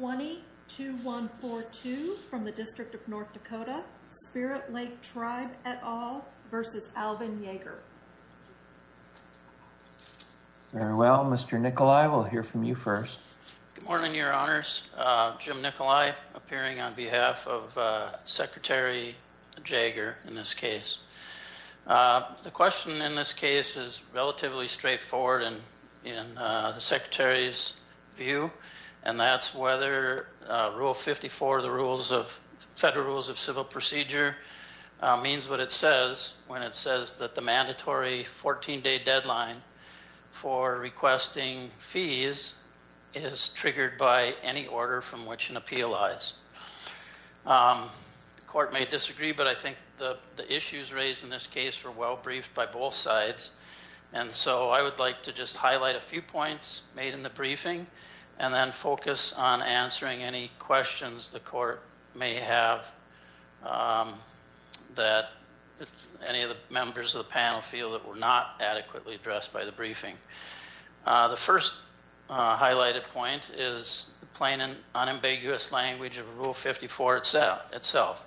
20-2142 from the District of North Dakota, Spirit Lake Tribe et al. v. Alvin Jaeger. Very well, Mr. Nikolai, we'll hear from you first. Good morning, your honors. Jim Nikolai appearing on behalf of Secretary Jaeger in this case. The question in this case is relatively straightforward in the Secretary's view, and that's whether Rule 54 of the Federal Rules of Civil Procedure means what it says when it says that the mandatory 14-day deadline for requesting fees is triggered by any order from which an appeal lies. The court may disagree, but I think the just highlight a few points made in the briefing and then focus on answering any questions the court may have that any of the members of the panel feel that were not adequately addressed by the briefing. The first highlighted point is the plain and unambiguous language of Rule 54 itself.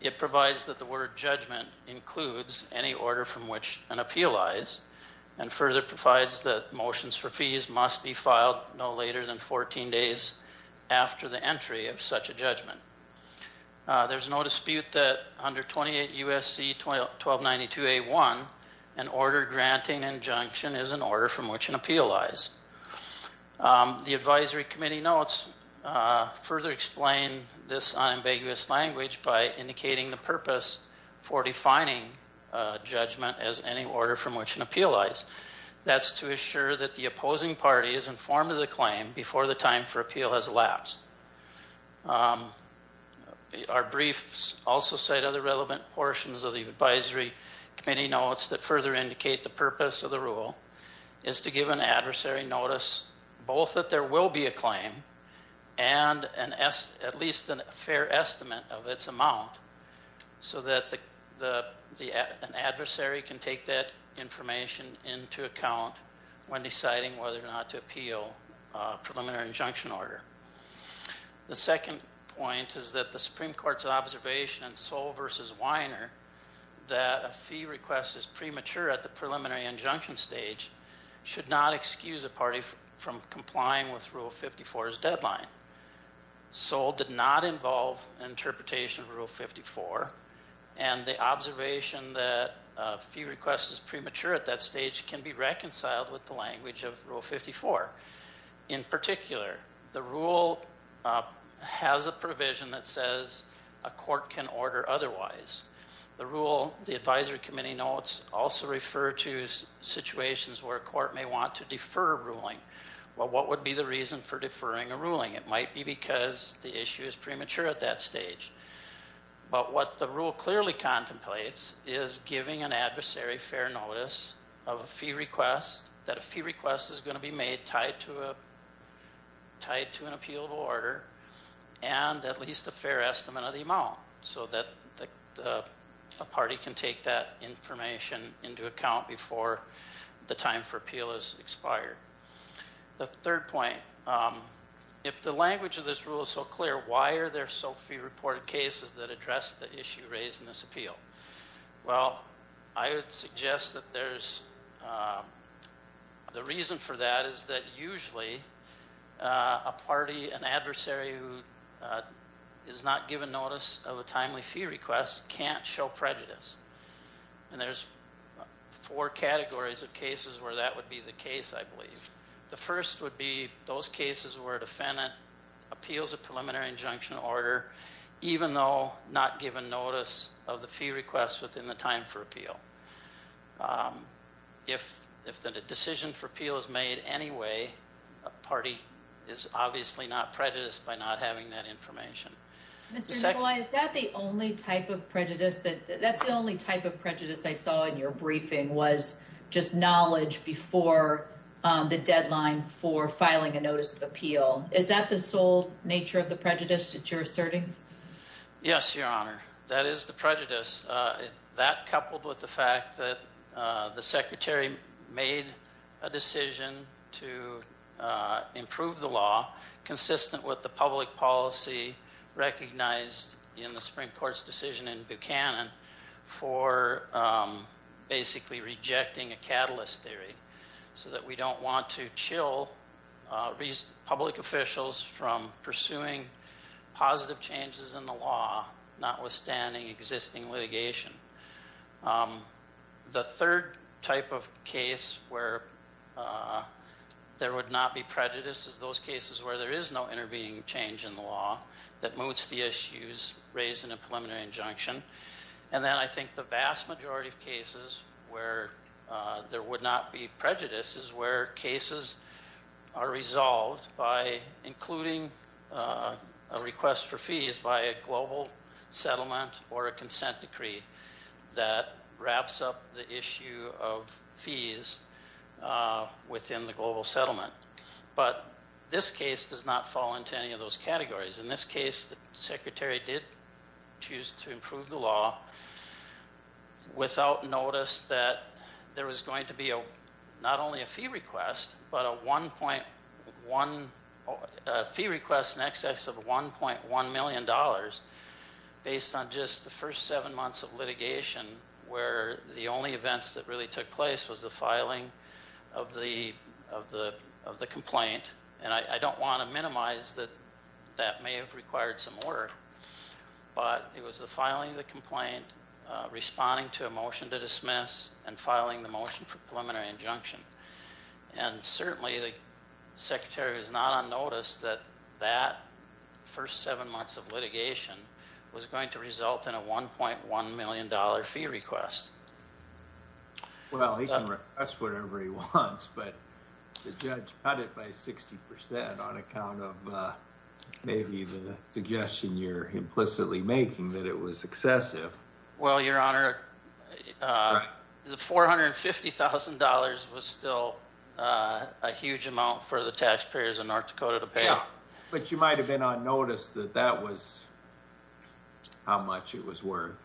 It provides that the word judgment includes any order from which an appeal lies and further provides that motions for fees must be filed no later than 14 days after the entry of such a judgment. There's no dispute that under 28 U.S.C. 1292 A.1, an order granting injunction is an order from which an appeal lies. The advisory committee notes further explain this unambiguous language by indicating the purpose for defining judgment as any order from which an appeal lies. That's to assure that the opposing party is informed of the claim before the time for appeal has elapsed. Our briefs also cite other relevant portions of the advisory committee notes that further indicate the purpose of the rule is to give an adversary notice both that there will be a claim and at least a fair estimate of its amount so that an adversary can take that information into account when deciding whether or not to appeal a preliminary injunction order. The second point is that the Supreme Court's observation in Soll v. Weiner that a fee request is premature at the preliminary injunction stage should not excuse a party from complying with Rule 54's deadline. Soll did not involve interpretation of Rule 54 and the observation that a fee request is premature at that stage can be reconciled with the language of Rule 54. In particular, the rule has a provision that says a court can order otherwise. The rule the advisory committee notes also refer to situations where a court may want to defer a ruling. Well, what would be the reason for deferring a ruling? It might be because the issue is premature at that stage. But what the rule clearly contemplates is giving an adversary fair notice of a fee request that a fee request is going to be made tied to a tied to an appealable order and at least a fair estimate of the amount so that a party can take that information into account before the time for appeal is expired. The third point, if the language of this rule is so clear, why are there so few reported cases that address the issue raised in this appeal? Well, I would suggest that there's the reason for that is that usually a party, an adversary who is not given notice of a timely fee request can't show prejudice. And there's four categories of cases where that would be the case, I believe. The first would be those cases where a defendant appeals a preliminary injunction order even though not given notice of the fee request within the time for appeal. If the decision for appeal is made anyway, a party is obviously not prejudiced by not having that information. Mr. McCullough, is that the only type of prejudice I saw in your briefing was just knowledge before the deadline for filing a notice of appeal? Is that the sole nature of the fact that the secretary made a decision to improve the law consistent with the public policy recognized in the Supreme Court's decision in Buchanan for basically rejecting a catalyst theory so that we don't want to chill public officials from pursuing positive changes in the law notwithstanding existing litigation. The third type of case where there would not be prejudice is those cases where there is no intervening change in the law that moots the issues raised in a preliminary injunction. And then I think the vast majority of cases where there would not be settlement or a consent decree that wraps up the issue of fees within the global settlement. But this case does not fall into any of those categories. In this case, the secretary did choose to improve the law without notice that there was going to be not only a fee request but a 1.1 fee request in excess of 1.1 million dollars based on just the first seven months of litigation where the only events that really took place was the filing of the complaint. And I don't want to minimize that that may have required some order but it was the filing of the complaint, responding to a motion to dismiss, and filing the motion for certainly the secretary was not on notice that that first seven months of litigation was going to result in a 1.1 million dollar fee request. Well he can request whatever he wants but the judge cut it by 60 percent on account of maybe the suggestion you're implicitly making that it was excessive. Well your honor, the $450,000 was still a huge amount for the taxpayers in North Dakota to pay. But you might have been on notice that that was how much it was worth.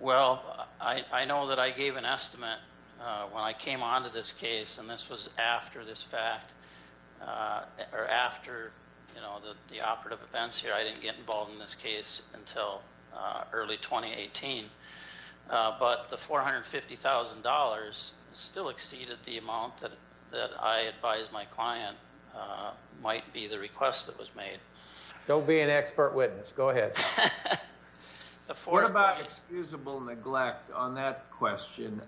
Well I know that I gave an estimate when I came on to this case and this was after this fact or after you know the operative events here. I didn't get involved in this case until early 2018 but the $450,000 still exceeded the amount that that I advised my client might be the request that was made. Don't be an expert witness, go ahead. What about excusable neglect on that question?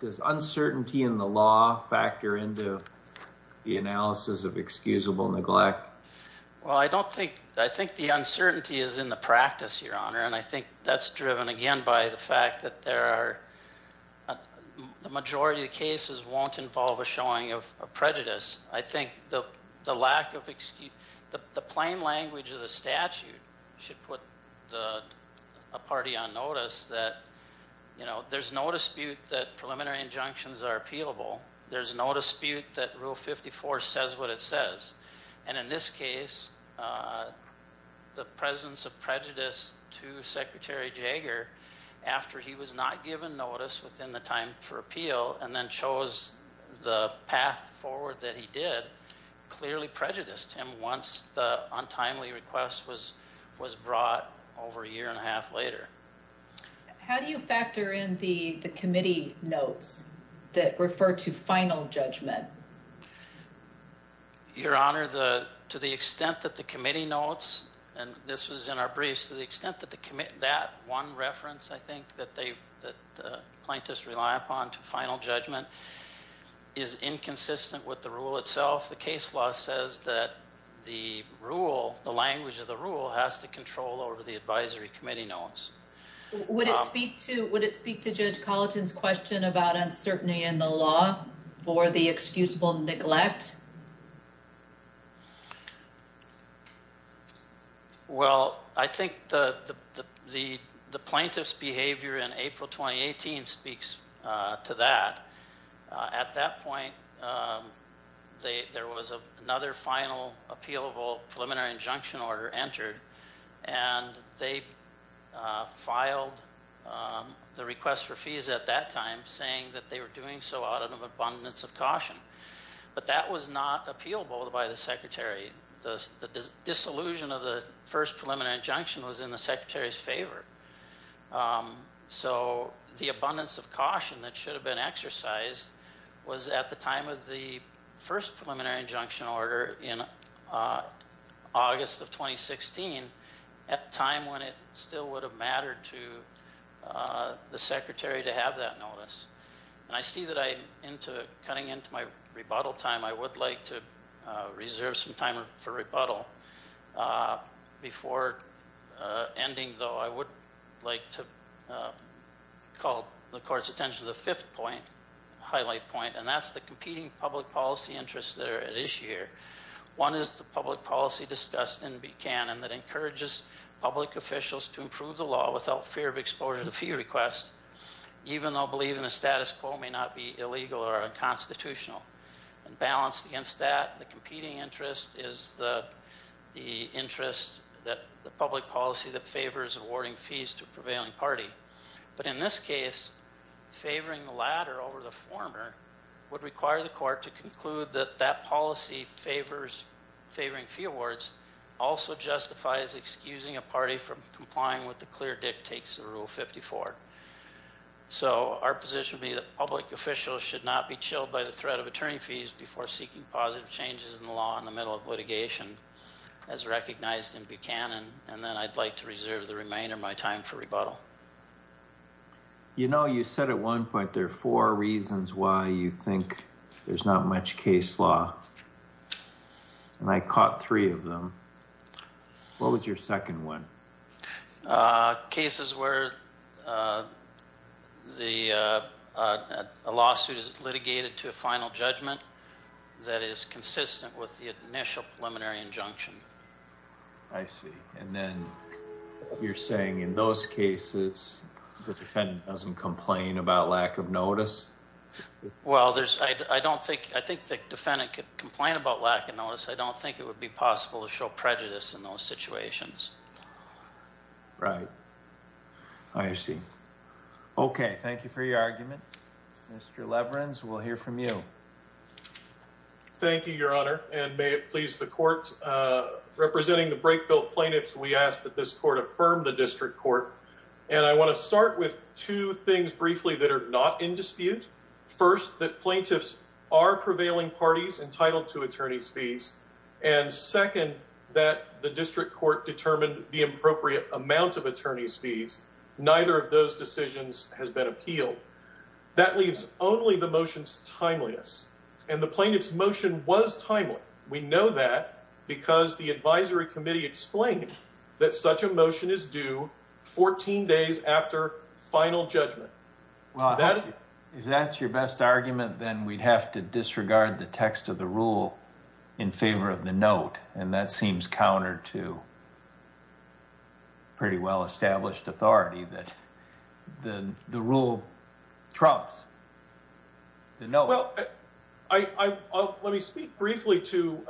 Does uncertainty in the law factor into the analysis of excusable neglect? Well I don't think, I think the uncertainty is in the practice your honor and I think that's driven again by the fact that there are, the majority of cases won't involve a showing of prejudice. I think the lack of excuse, the plain language of the statute should put a party on notice that you know there's no dispute that preliminary injunctions are that rule 54 says what it says. And in this case the presence of prejudice to Secretary Jaeger after he was not given notice within the time for appeal and then chose the path forward that he did clearly prejudiced him once the untimely request was was brought over a year and a half later. How do you factor in the the committee notes that refer to final judgment? Your honor the to the extent that the committee notes and this was in our briefs to the extent that the commit that one reference I think that they that plaintiffs rely upon to final judgment is inconsistent with the rule itself. The case law says that the rule, the language of the rule has to control over the advisory committee notes. Would it speak to, would it speak to Judge Colleton's question about uncertainty in the law for the excusable neglect? Well I think the the the plaintiff's behavior in April 2018 speaks to that. At that point um they there was a another final appealable preliminary injunction order entered and they filed the request for fees at that time saying that they were doing so out of abundance of caution. But that was not appealable by the secretary. The disillusion of the first preliminary injunction was in the secretary's favor. So the abundance of caution that should have been exercised was at the time of the first preliminary injunction order in August of 2016 at a time when it still would have mattered to the secretary to have that notice. And I see that I into cutting into my rebuttal time I would like to reserve some time for rebuttal. Before ending though I would like to call the court's attention to the fifth point, highlight point, and that's the competing public policy interests that are at issue here. One is the public policy discussed in Buchanan that encourages public officials to improve the law without fear of exposure to fee requests even though believing the status quo may not be illegal or unconstitutional. And balanced against that the competing interest is the the interest that the public policy that prevailing party. But in this case favoring the latter over the former would require the court to conclude that that policy favoring fee awards also justifies excusing a party from complying with the clear dictates of rule 54. So our position would be that public officials should not be chilled by the threat of attorney fees before seeking positive changes in the law in the middle of litigation as recognized in Buchanan. And then I'd like to reserve the time for rebuttal. You know you said at one point there are four reasons why you think there's not much case law and I caught three of them. What was your second one? Cases where the lawsuit is litigated to a final judgment that is consistent with the initial preliminary injunction. I see and then you're saying in those cases the defendant doesn't complain about lack of notice? Well there's I don't think I think the defendant could complain about lack of notice. I don't think it would be possible to show prejudice in those situations. Right I see. Okay thank you for your argument. Mr. Leverins we'll hear from you. Thank you your honor and may it please the court. Representing the break bill plaintiffs we ask that this court affirm the district court and I want to start with two things briefly that are not in dispute. First that plaintiffs are prevailing parties entitled to attorney's fees and second that the district court determined the appropriate amount of attorney's fees. Neither of those decisions has been appealed. That leaves only the motions timeliness and the plaintiff's motion was timely. We know that because the advisory committee explained that such a motion is due 14 days after final judgment. Well if that's your best argument then we'd have to disregard the text of the rule in favor of the note and that seems counter to pretty well established authority that the the rule trumps the note. Well I I'll let me speak briefly to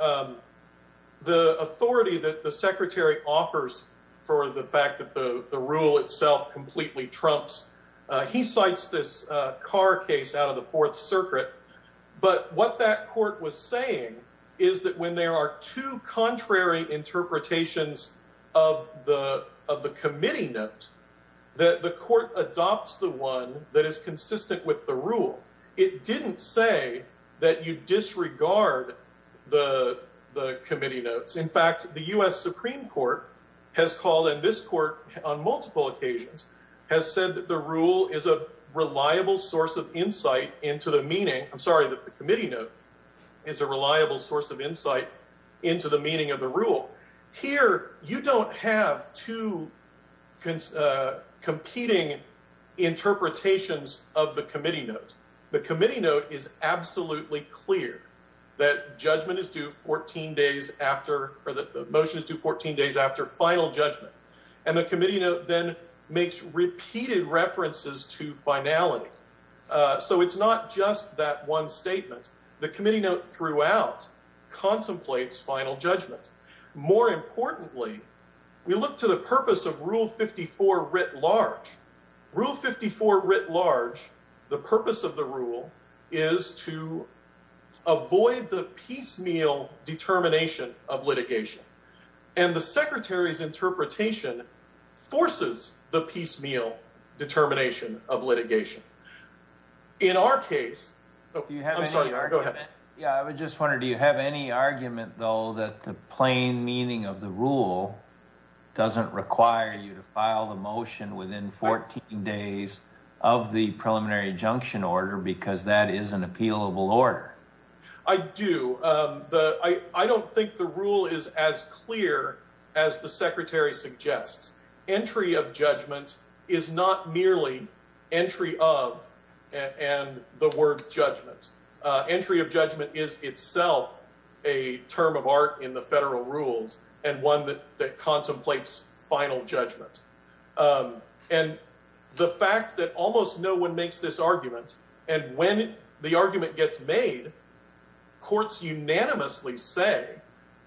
the authority that the secretary offers for the fact that the the rule itself completely trumps. He cites this car case out of the fourth circuit but what that court was saying is that when there are two contrary interpretations of the of the committee note that the court adopts the one that is consistent with the rule. It didn't say that you disregard the the committee notes. In fact the U.S. Supreme Court has called and this court on multiple occasions has said that the rule is a reliable source of insight into the meaning. I'm sorry that the committee note is a reliable source of insight into the meaning of the rule. Here you don't have two competing interpretations of the committee note. The committee note is absolutely clear that judgment is due 14 days after or that the motion is due 14 days after final judgment and the committee note then makes repeated references to finality. So it's not just that statement. The committee note throughout contemplates final judgment. More importantly we look to the purpose of rule 54 writ large. Rule 54 writ large the purpose of the rule is to avoid the piecemeal determination of litigation and the secretary's interpretation forces the piecemeal determination of litigation. In our case oh I'm sorry go ahead. Yeah I just wondered do you have any argument though that the plain meaning of the rule doesn't require you to file the motion within 14 days of the preliminary injunction order because that is an appealable I do. I don't think the rule is as clear as the secretary suggests. Entry of judgment is not merely entry of and the word judgment. Entry of judgment is itself a term of art in the federal rules and one that contemplates final judgment. And the fact that almost no one makes this argument and when the argument gets made courts unanimously say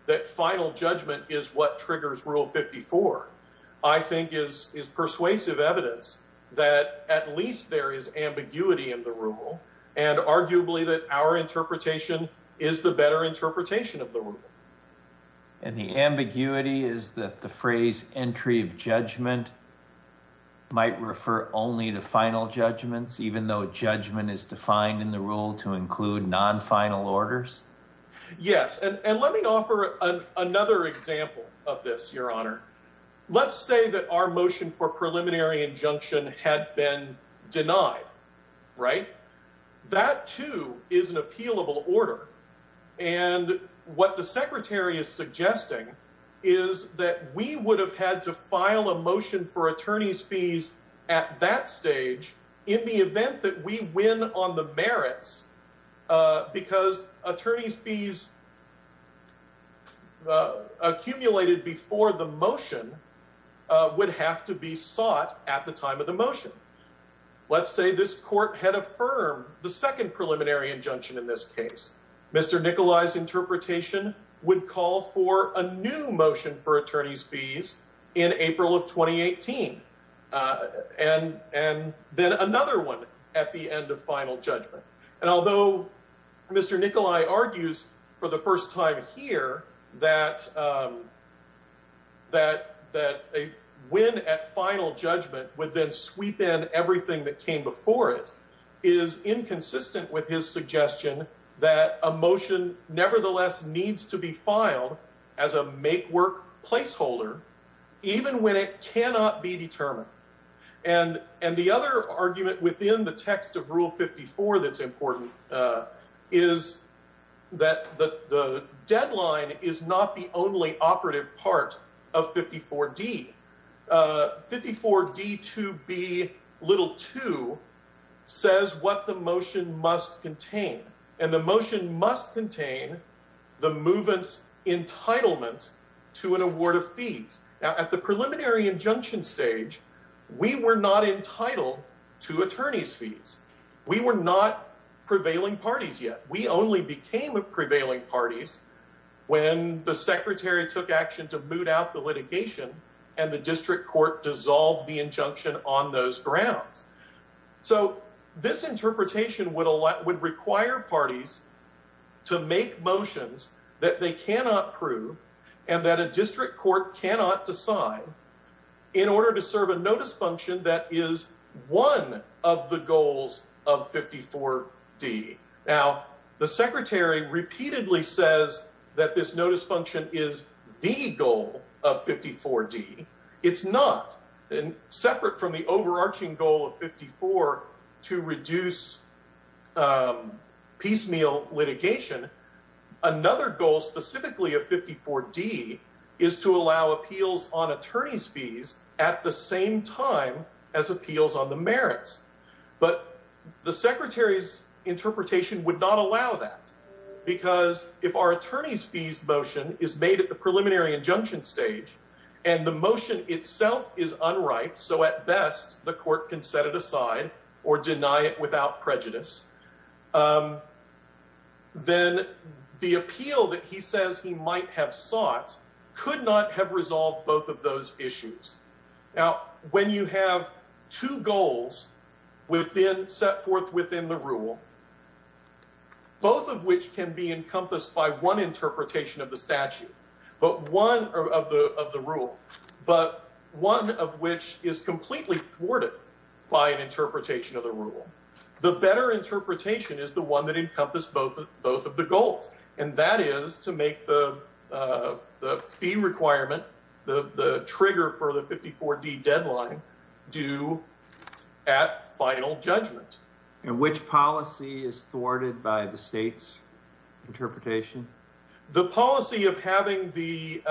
that final judgment is what triggers rule 54 I think is is persuasive evidence that at least there is ambiguity in the rule and arguably that our interpretation is the better interpretation of the rule. And the ambiguity is that the phrase entry of judgment might refer only to final judgments even though judgment is defined in the rule to include non-final orders. Yes and let me offer another example of this your honor. Let's say that our motion for preliminary injunction had been denied right that too is an appealable order and what the secretary is suggesting is that we would have had to file a motion for attorney's fees at that stage in the event that we win on the merits because attorney's fees accumulated before the motion would have to be sought at the time of the motion. Let's say this court had affirmed the second preliminary injunction in this case. Mr. Nikolai's interpretation would call for a new motion for attorney's fees in April of 2018 and then another one at the end of final judgment. And although Mr. Nikolai argues for the first time here that a win at final judgment would then sweep in everything that came before it is inconsistent with his suggestion that a motion nevertheless needs to be filed as a make work placeholder even when it cannot be determined. And the other argument within the text of rule 54 that's important is that the deadline is not the only operative part of 54d. 54d 2b little 2 says what the motion must contain and the motion must contain the movement's entitlements to an award of fees. Now at the preliminary injunction stage we were not entitled to attorney's fees. We were not prevailing parties yet. We only became a prevailing parties when the secretary took action to boot out the litigation and the district court dissolved the injunction on those grounds. So this interpretation would require parties to make motions that they cannot prove and that a district court cannot decide in order to serve a notice function that is one of the goals of 54d. Now the secretary repeatedly says that this notice function is the goal of 54d. It's not and separate from the overarching goal of 54 to reduce piecemeal litigation. Another goal specifically of 54d is to allow appeals on attorney's fees at the same time as appeals on the merits. But the secretary's interpretation would not allow that because if our attorney's fees motion is made at the preliminary injunction stage and the motion itself is unripe so at best the court can set it aside or deny it without prejudice then the appeal that he says he might have sought could not have resolved both of those issues. Now when you have two goals within set forth within the rule both of which can be encompassed by one interpretation of the statute but one of the of the rule but one of which is completely thwarted by an interpretation of the rule the better interpretation is the one that encompassed both both of the goals and that is to make the the fee requirement the the trigger for the 54d deadline due at final judgment. Which policy is thwarted by the state's interpretation? The policy of having the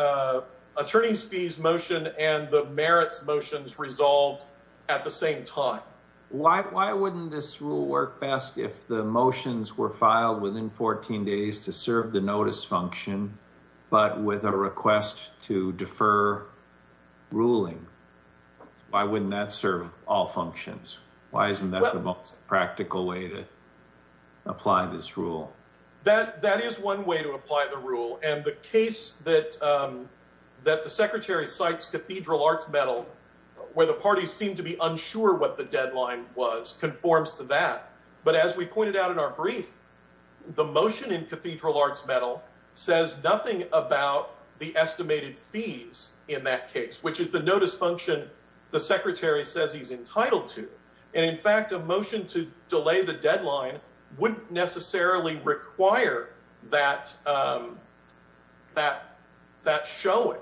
attorney's fees motion and the merits motions resolved at the same time. Why why wouldn't this rule work best if the motions were filed within 14 days to serve the notice function but with a request to defer ruling? Why wouldn't that serve all functions? Why isn't that the most practical way to apply this rule? That that is one way to apply the rule and the case that um that the secretary cites cathedral arts medal where the party seemed to be unsure what the to that but as we pointed out in our brief the motion in cathedral arts medal says nothing about the estimated fees in that case which is the notice function the secretary says he's entitled to and in fact a motion to delay the deadline wouldn't necessarily require that um that that showing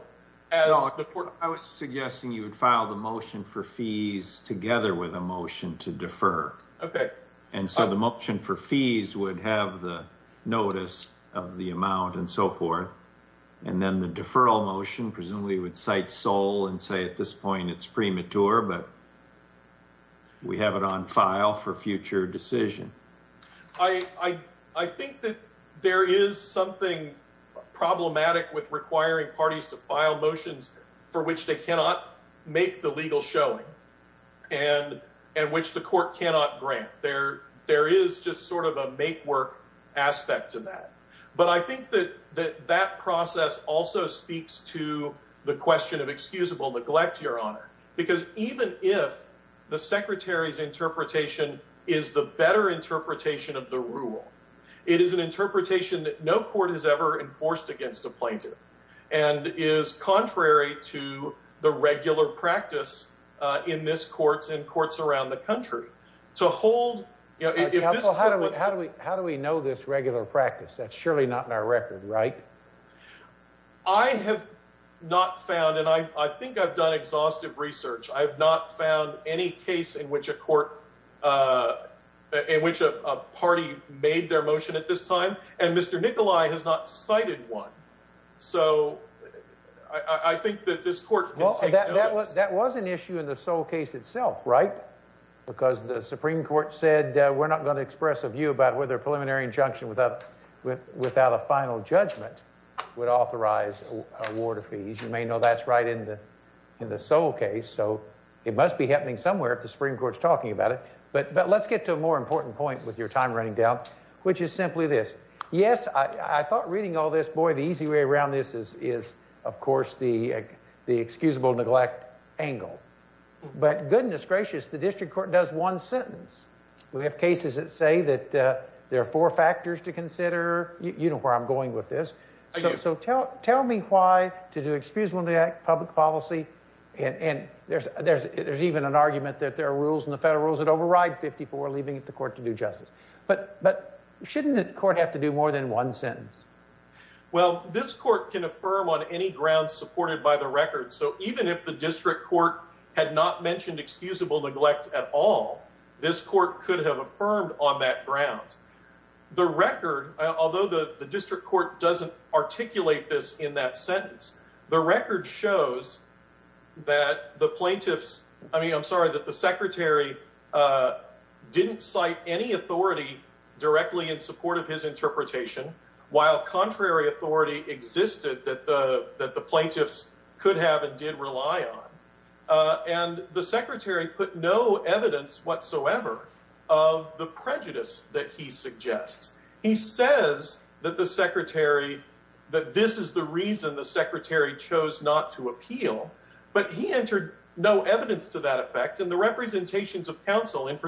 as the court i was suggesting you would file the motion for fees together with a motion to defer okay and so the motion for fees would have the notice of the amount and so forth and then the deferral motion presumably would cite sole and say at this point it's premature but we have it on file for future decision i i i think that there is something problematic with requiring parties to file motions for which they cannot make the legal showing and and which the court cannot grant there there is just sort of a make work aspect to that but i think that that that process also speaks to the question of excusable neglect your honor because even if the secretary's interpretation is the better interpretation of the rule it is an interpretation that no court has ever enforced against a plaintiff and is contrary to the regular practice uh in this courts in courts around the country to hold you know how do we how do we know this regular practice that's surely not in our record right i have not found and i i think i've done exhaustive research i have not found any case in which a court uh in which a party made their motion at this time and mr nicolai has not cited one so i i think that this court well that was that was an issue in the sole case itself right because the supreme court said we're not going to express a view about whether preliminary injunction without with without a final judgment would authorize award of fees you may know that's right in the in the sole case so it must be happening somewhere if the supreme court's talking about it but but let's get to a more important point with your time running down which is simply this yes i i thought reading all this boy the easy way around this is is of course the the excusable neglect angle but goodness gracious the district court does one sentence we have cases that say that uh there are four factors to consider you know where i'm going with this so tell tell me why to do excusable neglect public policy and and there's there's there's even an argument that there are rules in the federal rules that override 54 leaving the court to do justice but but shouldn't the court have to do more than one sentence well this court can affirm on any ground supported by the record so even if the district court had not mentioned excusable neglect at all this court could have affirmed on that ground the record although the the district court doesn't articulate this in that sentence the record shows that the authority directly in support of his interpretation while contrary authority existed that the that the plaintiffs could have and did rely on uh and the secretary put no evidence whatsoever of the prejudice that he suggests he says that the secretary that this is the reason the secretary chose not to appeal but he entered no evidence to that effect and the representations of council in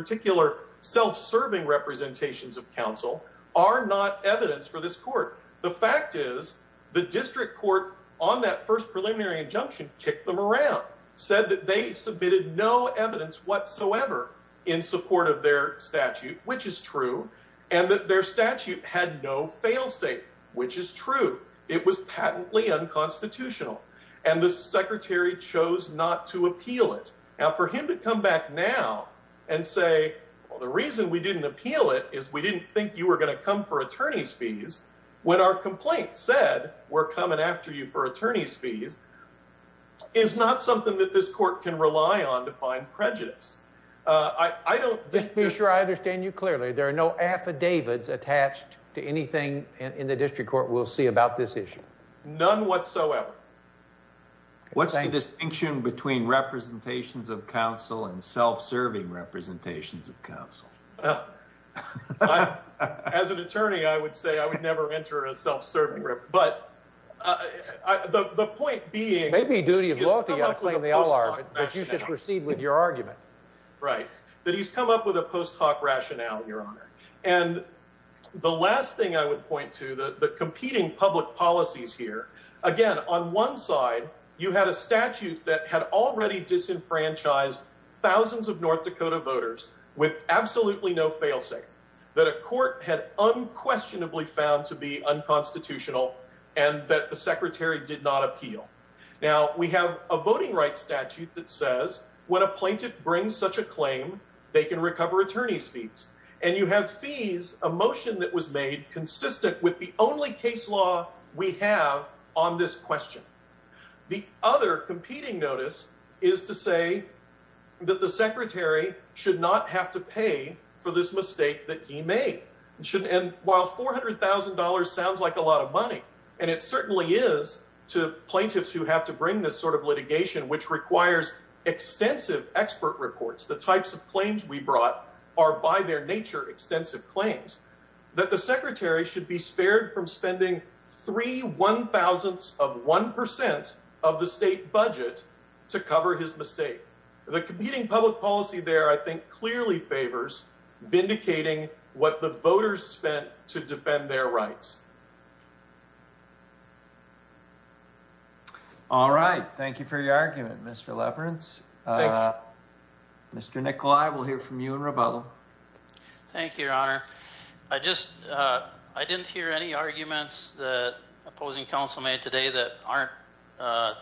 serving representations of council are not evidence for this court the fact is the district court on that first preliminary injunction kicked them around said that they submitted no evidence whatsoever in support of their statute which is true and that their statute had no fail state which is true it was patently unconstitutional and the secretary chose not to appeal it now for him to come back now and say well the reason we didn't appeal it is we didn't think you were going to come for attorney's fees when our complaint said we're coming after you for attorney's fees is not something that this court can rely on to find prejudice uh i i don't just be sure i understand you clearly there are no affidavits attached to anything in the district court we'll see about this issue none whatsoever what's the distinction between representations of council and self-serving representations of council well as an attorney i would say i would never enter a self-serving group but uh the the point being maybe duty of law but you should proceed with your argument right that he's come up with a post-hoc rationale your honor and the last thing i would point to the the competing public policies here again on one side you had a statute that had already disenfranchised thousands of north dakota voters with absolutely no failsafe that a court had unquestionably found to be unconstitutional and that the secretary did not appeal now we have a voting rights statute that says when a plaintiff brings such a claim they can recover attorney's fees and you have fees a motion that was made consistent with the only case law we have on this question the other competing notice is to say that the secretary should not have to pay for this mistake that he made and while four hundred thousand dollars sounds like a lot of money and it certainly is to plaintiffs who have to bring this sort of litigation which requires extensive expert reports the types of claims we brought are by their nature extensive claims that the secretary should be spared from spending three one thousandths of one percent of the state budget to cover his mistake the competing public policy there i think clearly favors vindicating what the voters spent to defend their rights all right thank you for your argument mr leverance uh mr nick live we'll hear from you in rebuttal thank you your honor i just uh i didn't hear any arguments that opposing council made today that aren't uh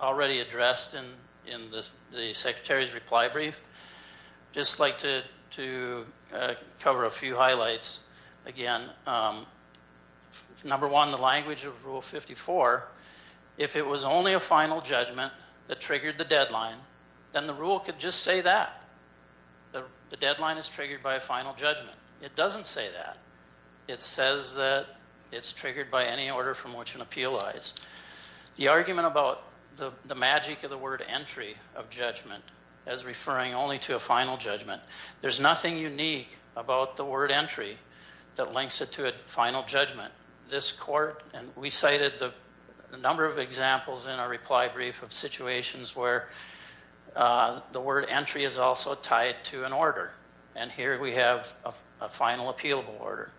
already addressed in in this the secretary's reply brief just like to to cover a number one the language of rule 54 if it was only a final judgment that triggered the deadline then the rule could just say that the deadline is triggered by a final judgment it doesn't say that it says that it's triggered by any order from which an appeal lies the argument about the the magic of the word entry of judgment as referring only to a final judgment there's final judgment this court and we cited the number of examples in our reply brief of situations where the word entry is also tied to an order and here we have a final appealable order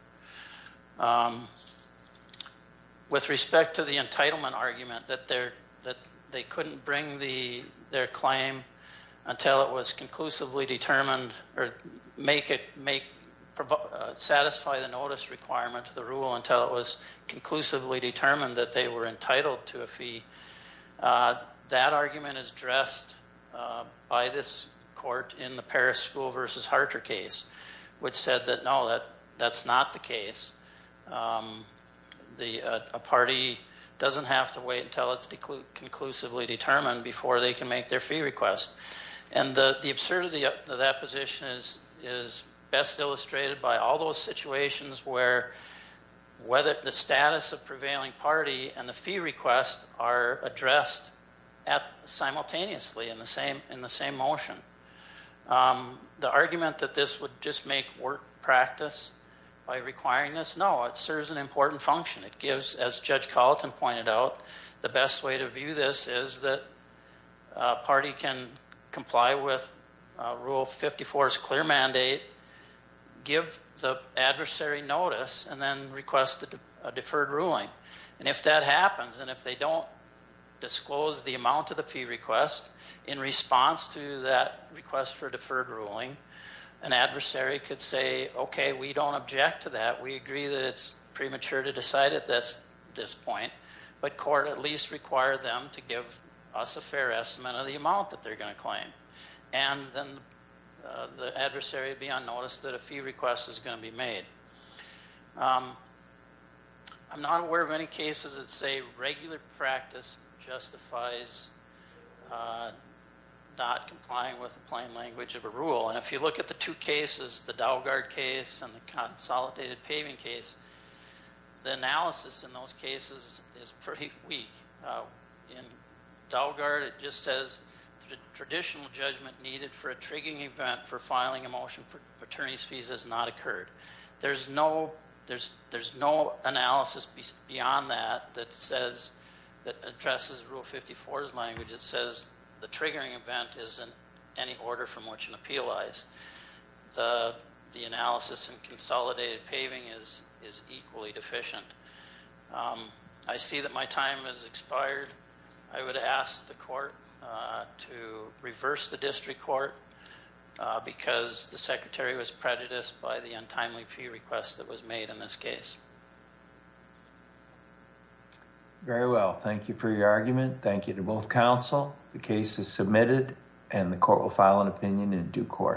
with respect to the entitlement argument that they're that they couldn't bring the their claim until it was conclusively determined or make it make satisfy the notice requirement to the rule until it was conclusively determined that they were entitled to a fee that argument is dressed by this court in the paris school versus harter case which said that no that that's not the case the a party doesn't have to wait until it's conclusively determined before they can make their fee request and the the absurdity of that position is is best illustrated by all those situations where whether the status of prevailing party and the fee request are addressed at simultaneously in the same in the same motion the argument that this would just make work practice by requiring this no it serves an important function it gives as judge colleton pointed out the best way to view this is that party can comply with rule 54 is clear mandate give the adversary notice and then request a deferred ruling and if that happens and if they don't disclose the amount of the fee request in response to that request for deferred ruling an adversary could say okay we don't object to that we agree that it's premature to decide at this point but court at least require them to give us a fair estimate of the amount that they're going to claim and then the adversary be on notice that a fee request is going to be made i'm not aware of any cases that say regular practice justifies not complying with the plain language of a rule and if you look at the two cases the dow guard case and the consolidated paving case the analysis in those cases is pretty weak in dow guard it just says the traditional judgment needed for a triggering event for filing a motion for attorney's fees has not occurred there's no there's there's no analysis beyond that that says that addresses rule 54's language it says the triggering event is in any order from which an the analysis and consolidated paving is is equally deficient i see that my time has expired i would ask the court to reverse the district court because the secretary was prejudiced by the untimely fee request that was made in this case very well thank you for your argument thank you to both counsel the case is submitted and the court will file an opinion in due course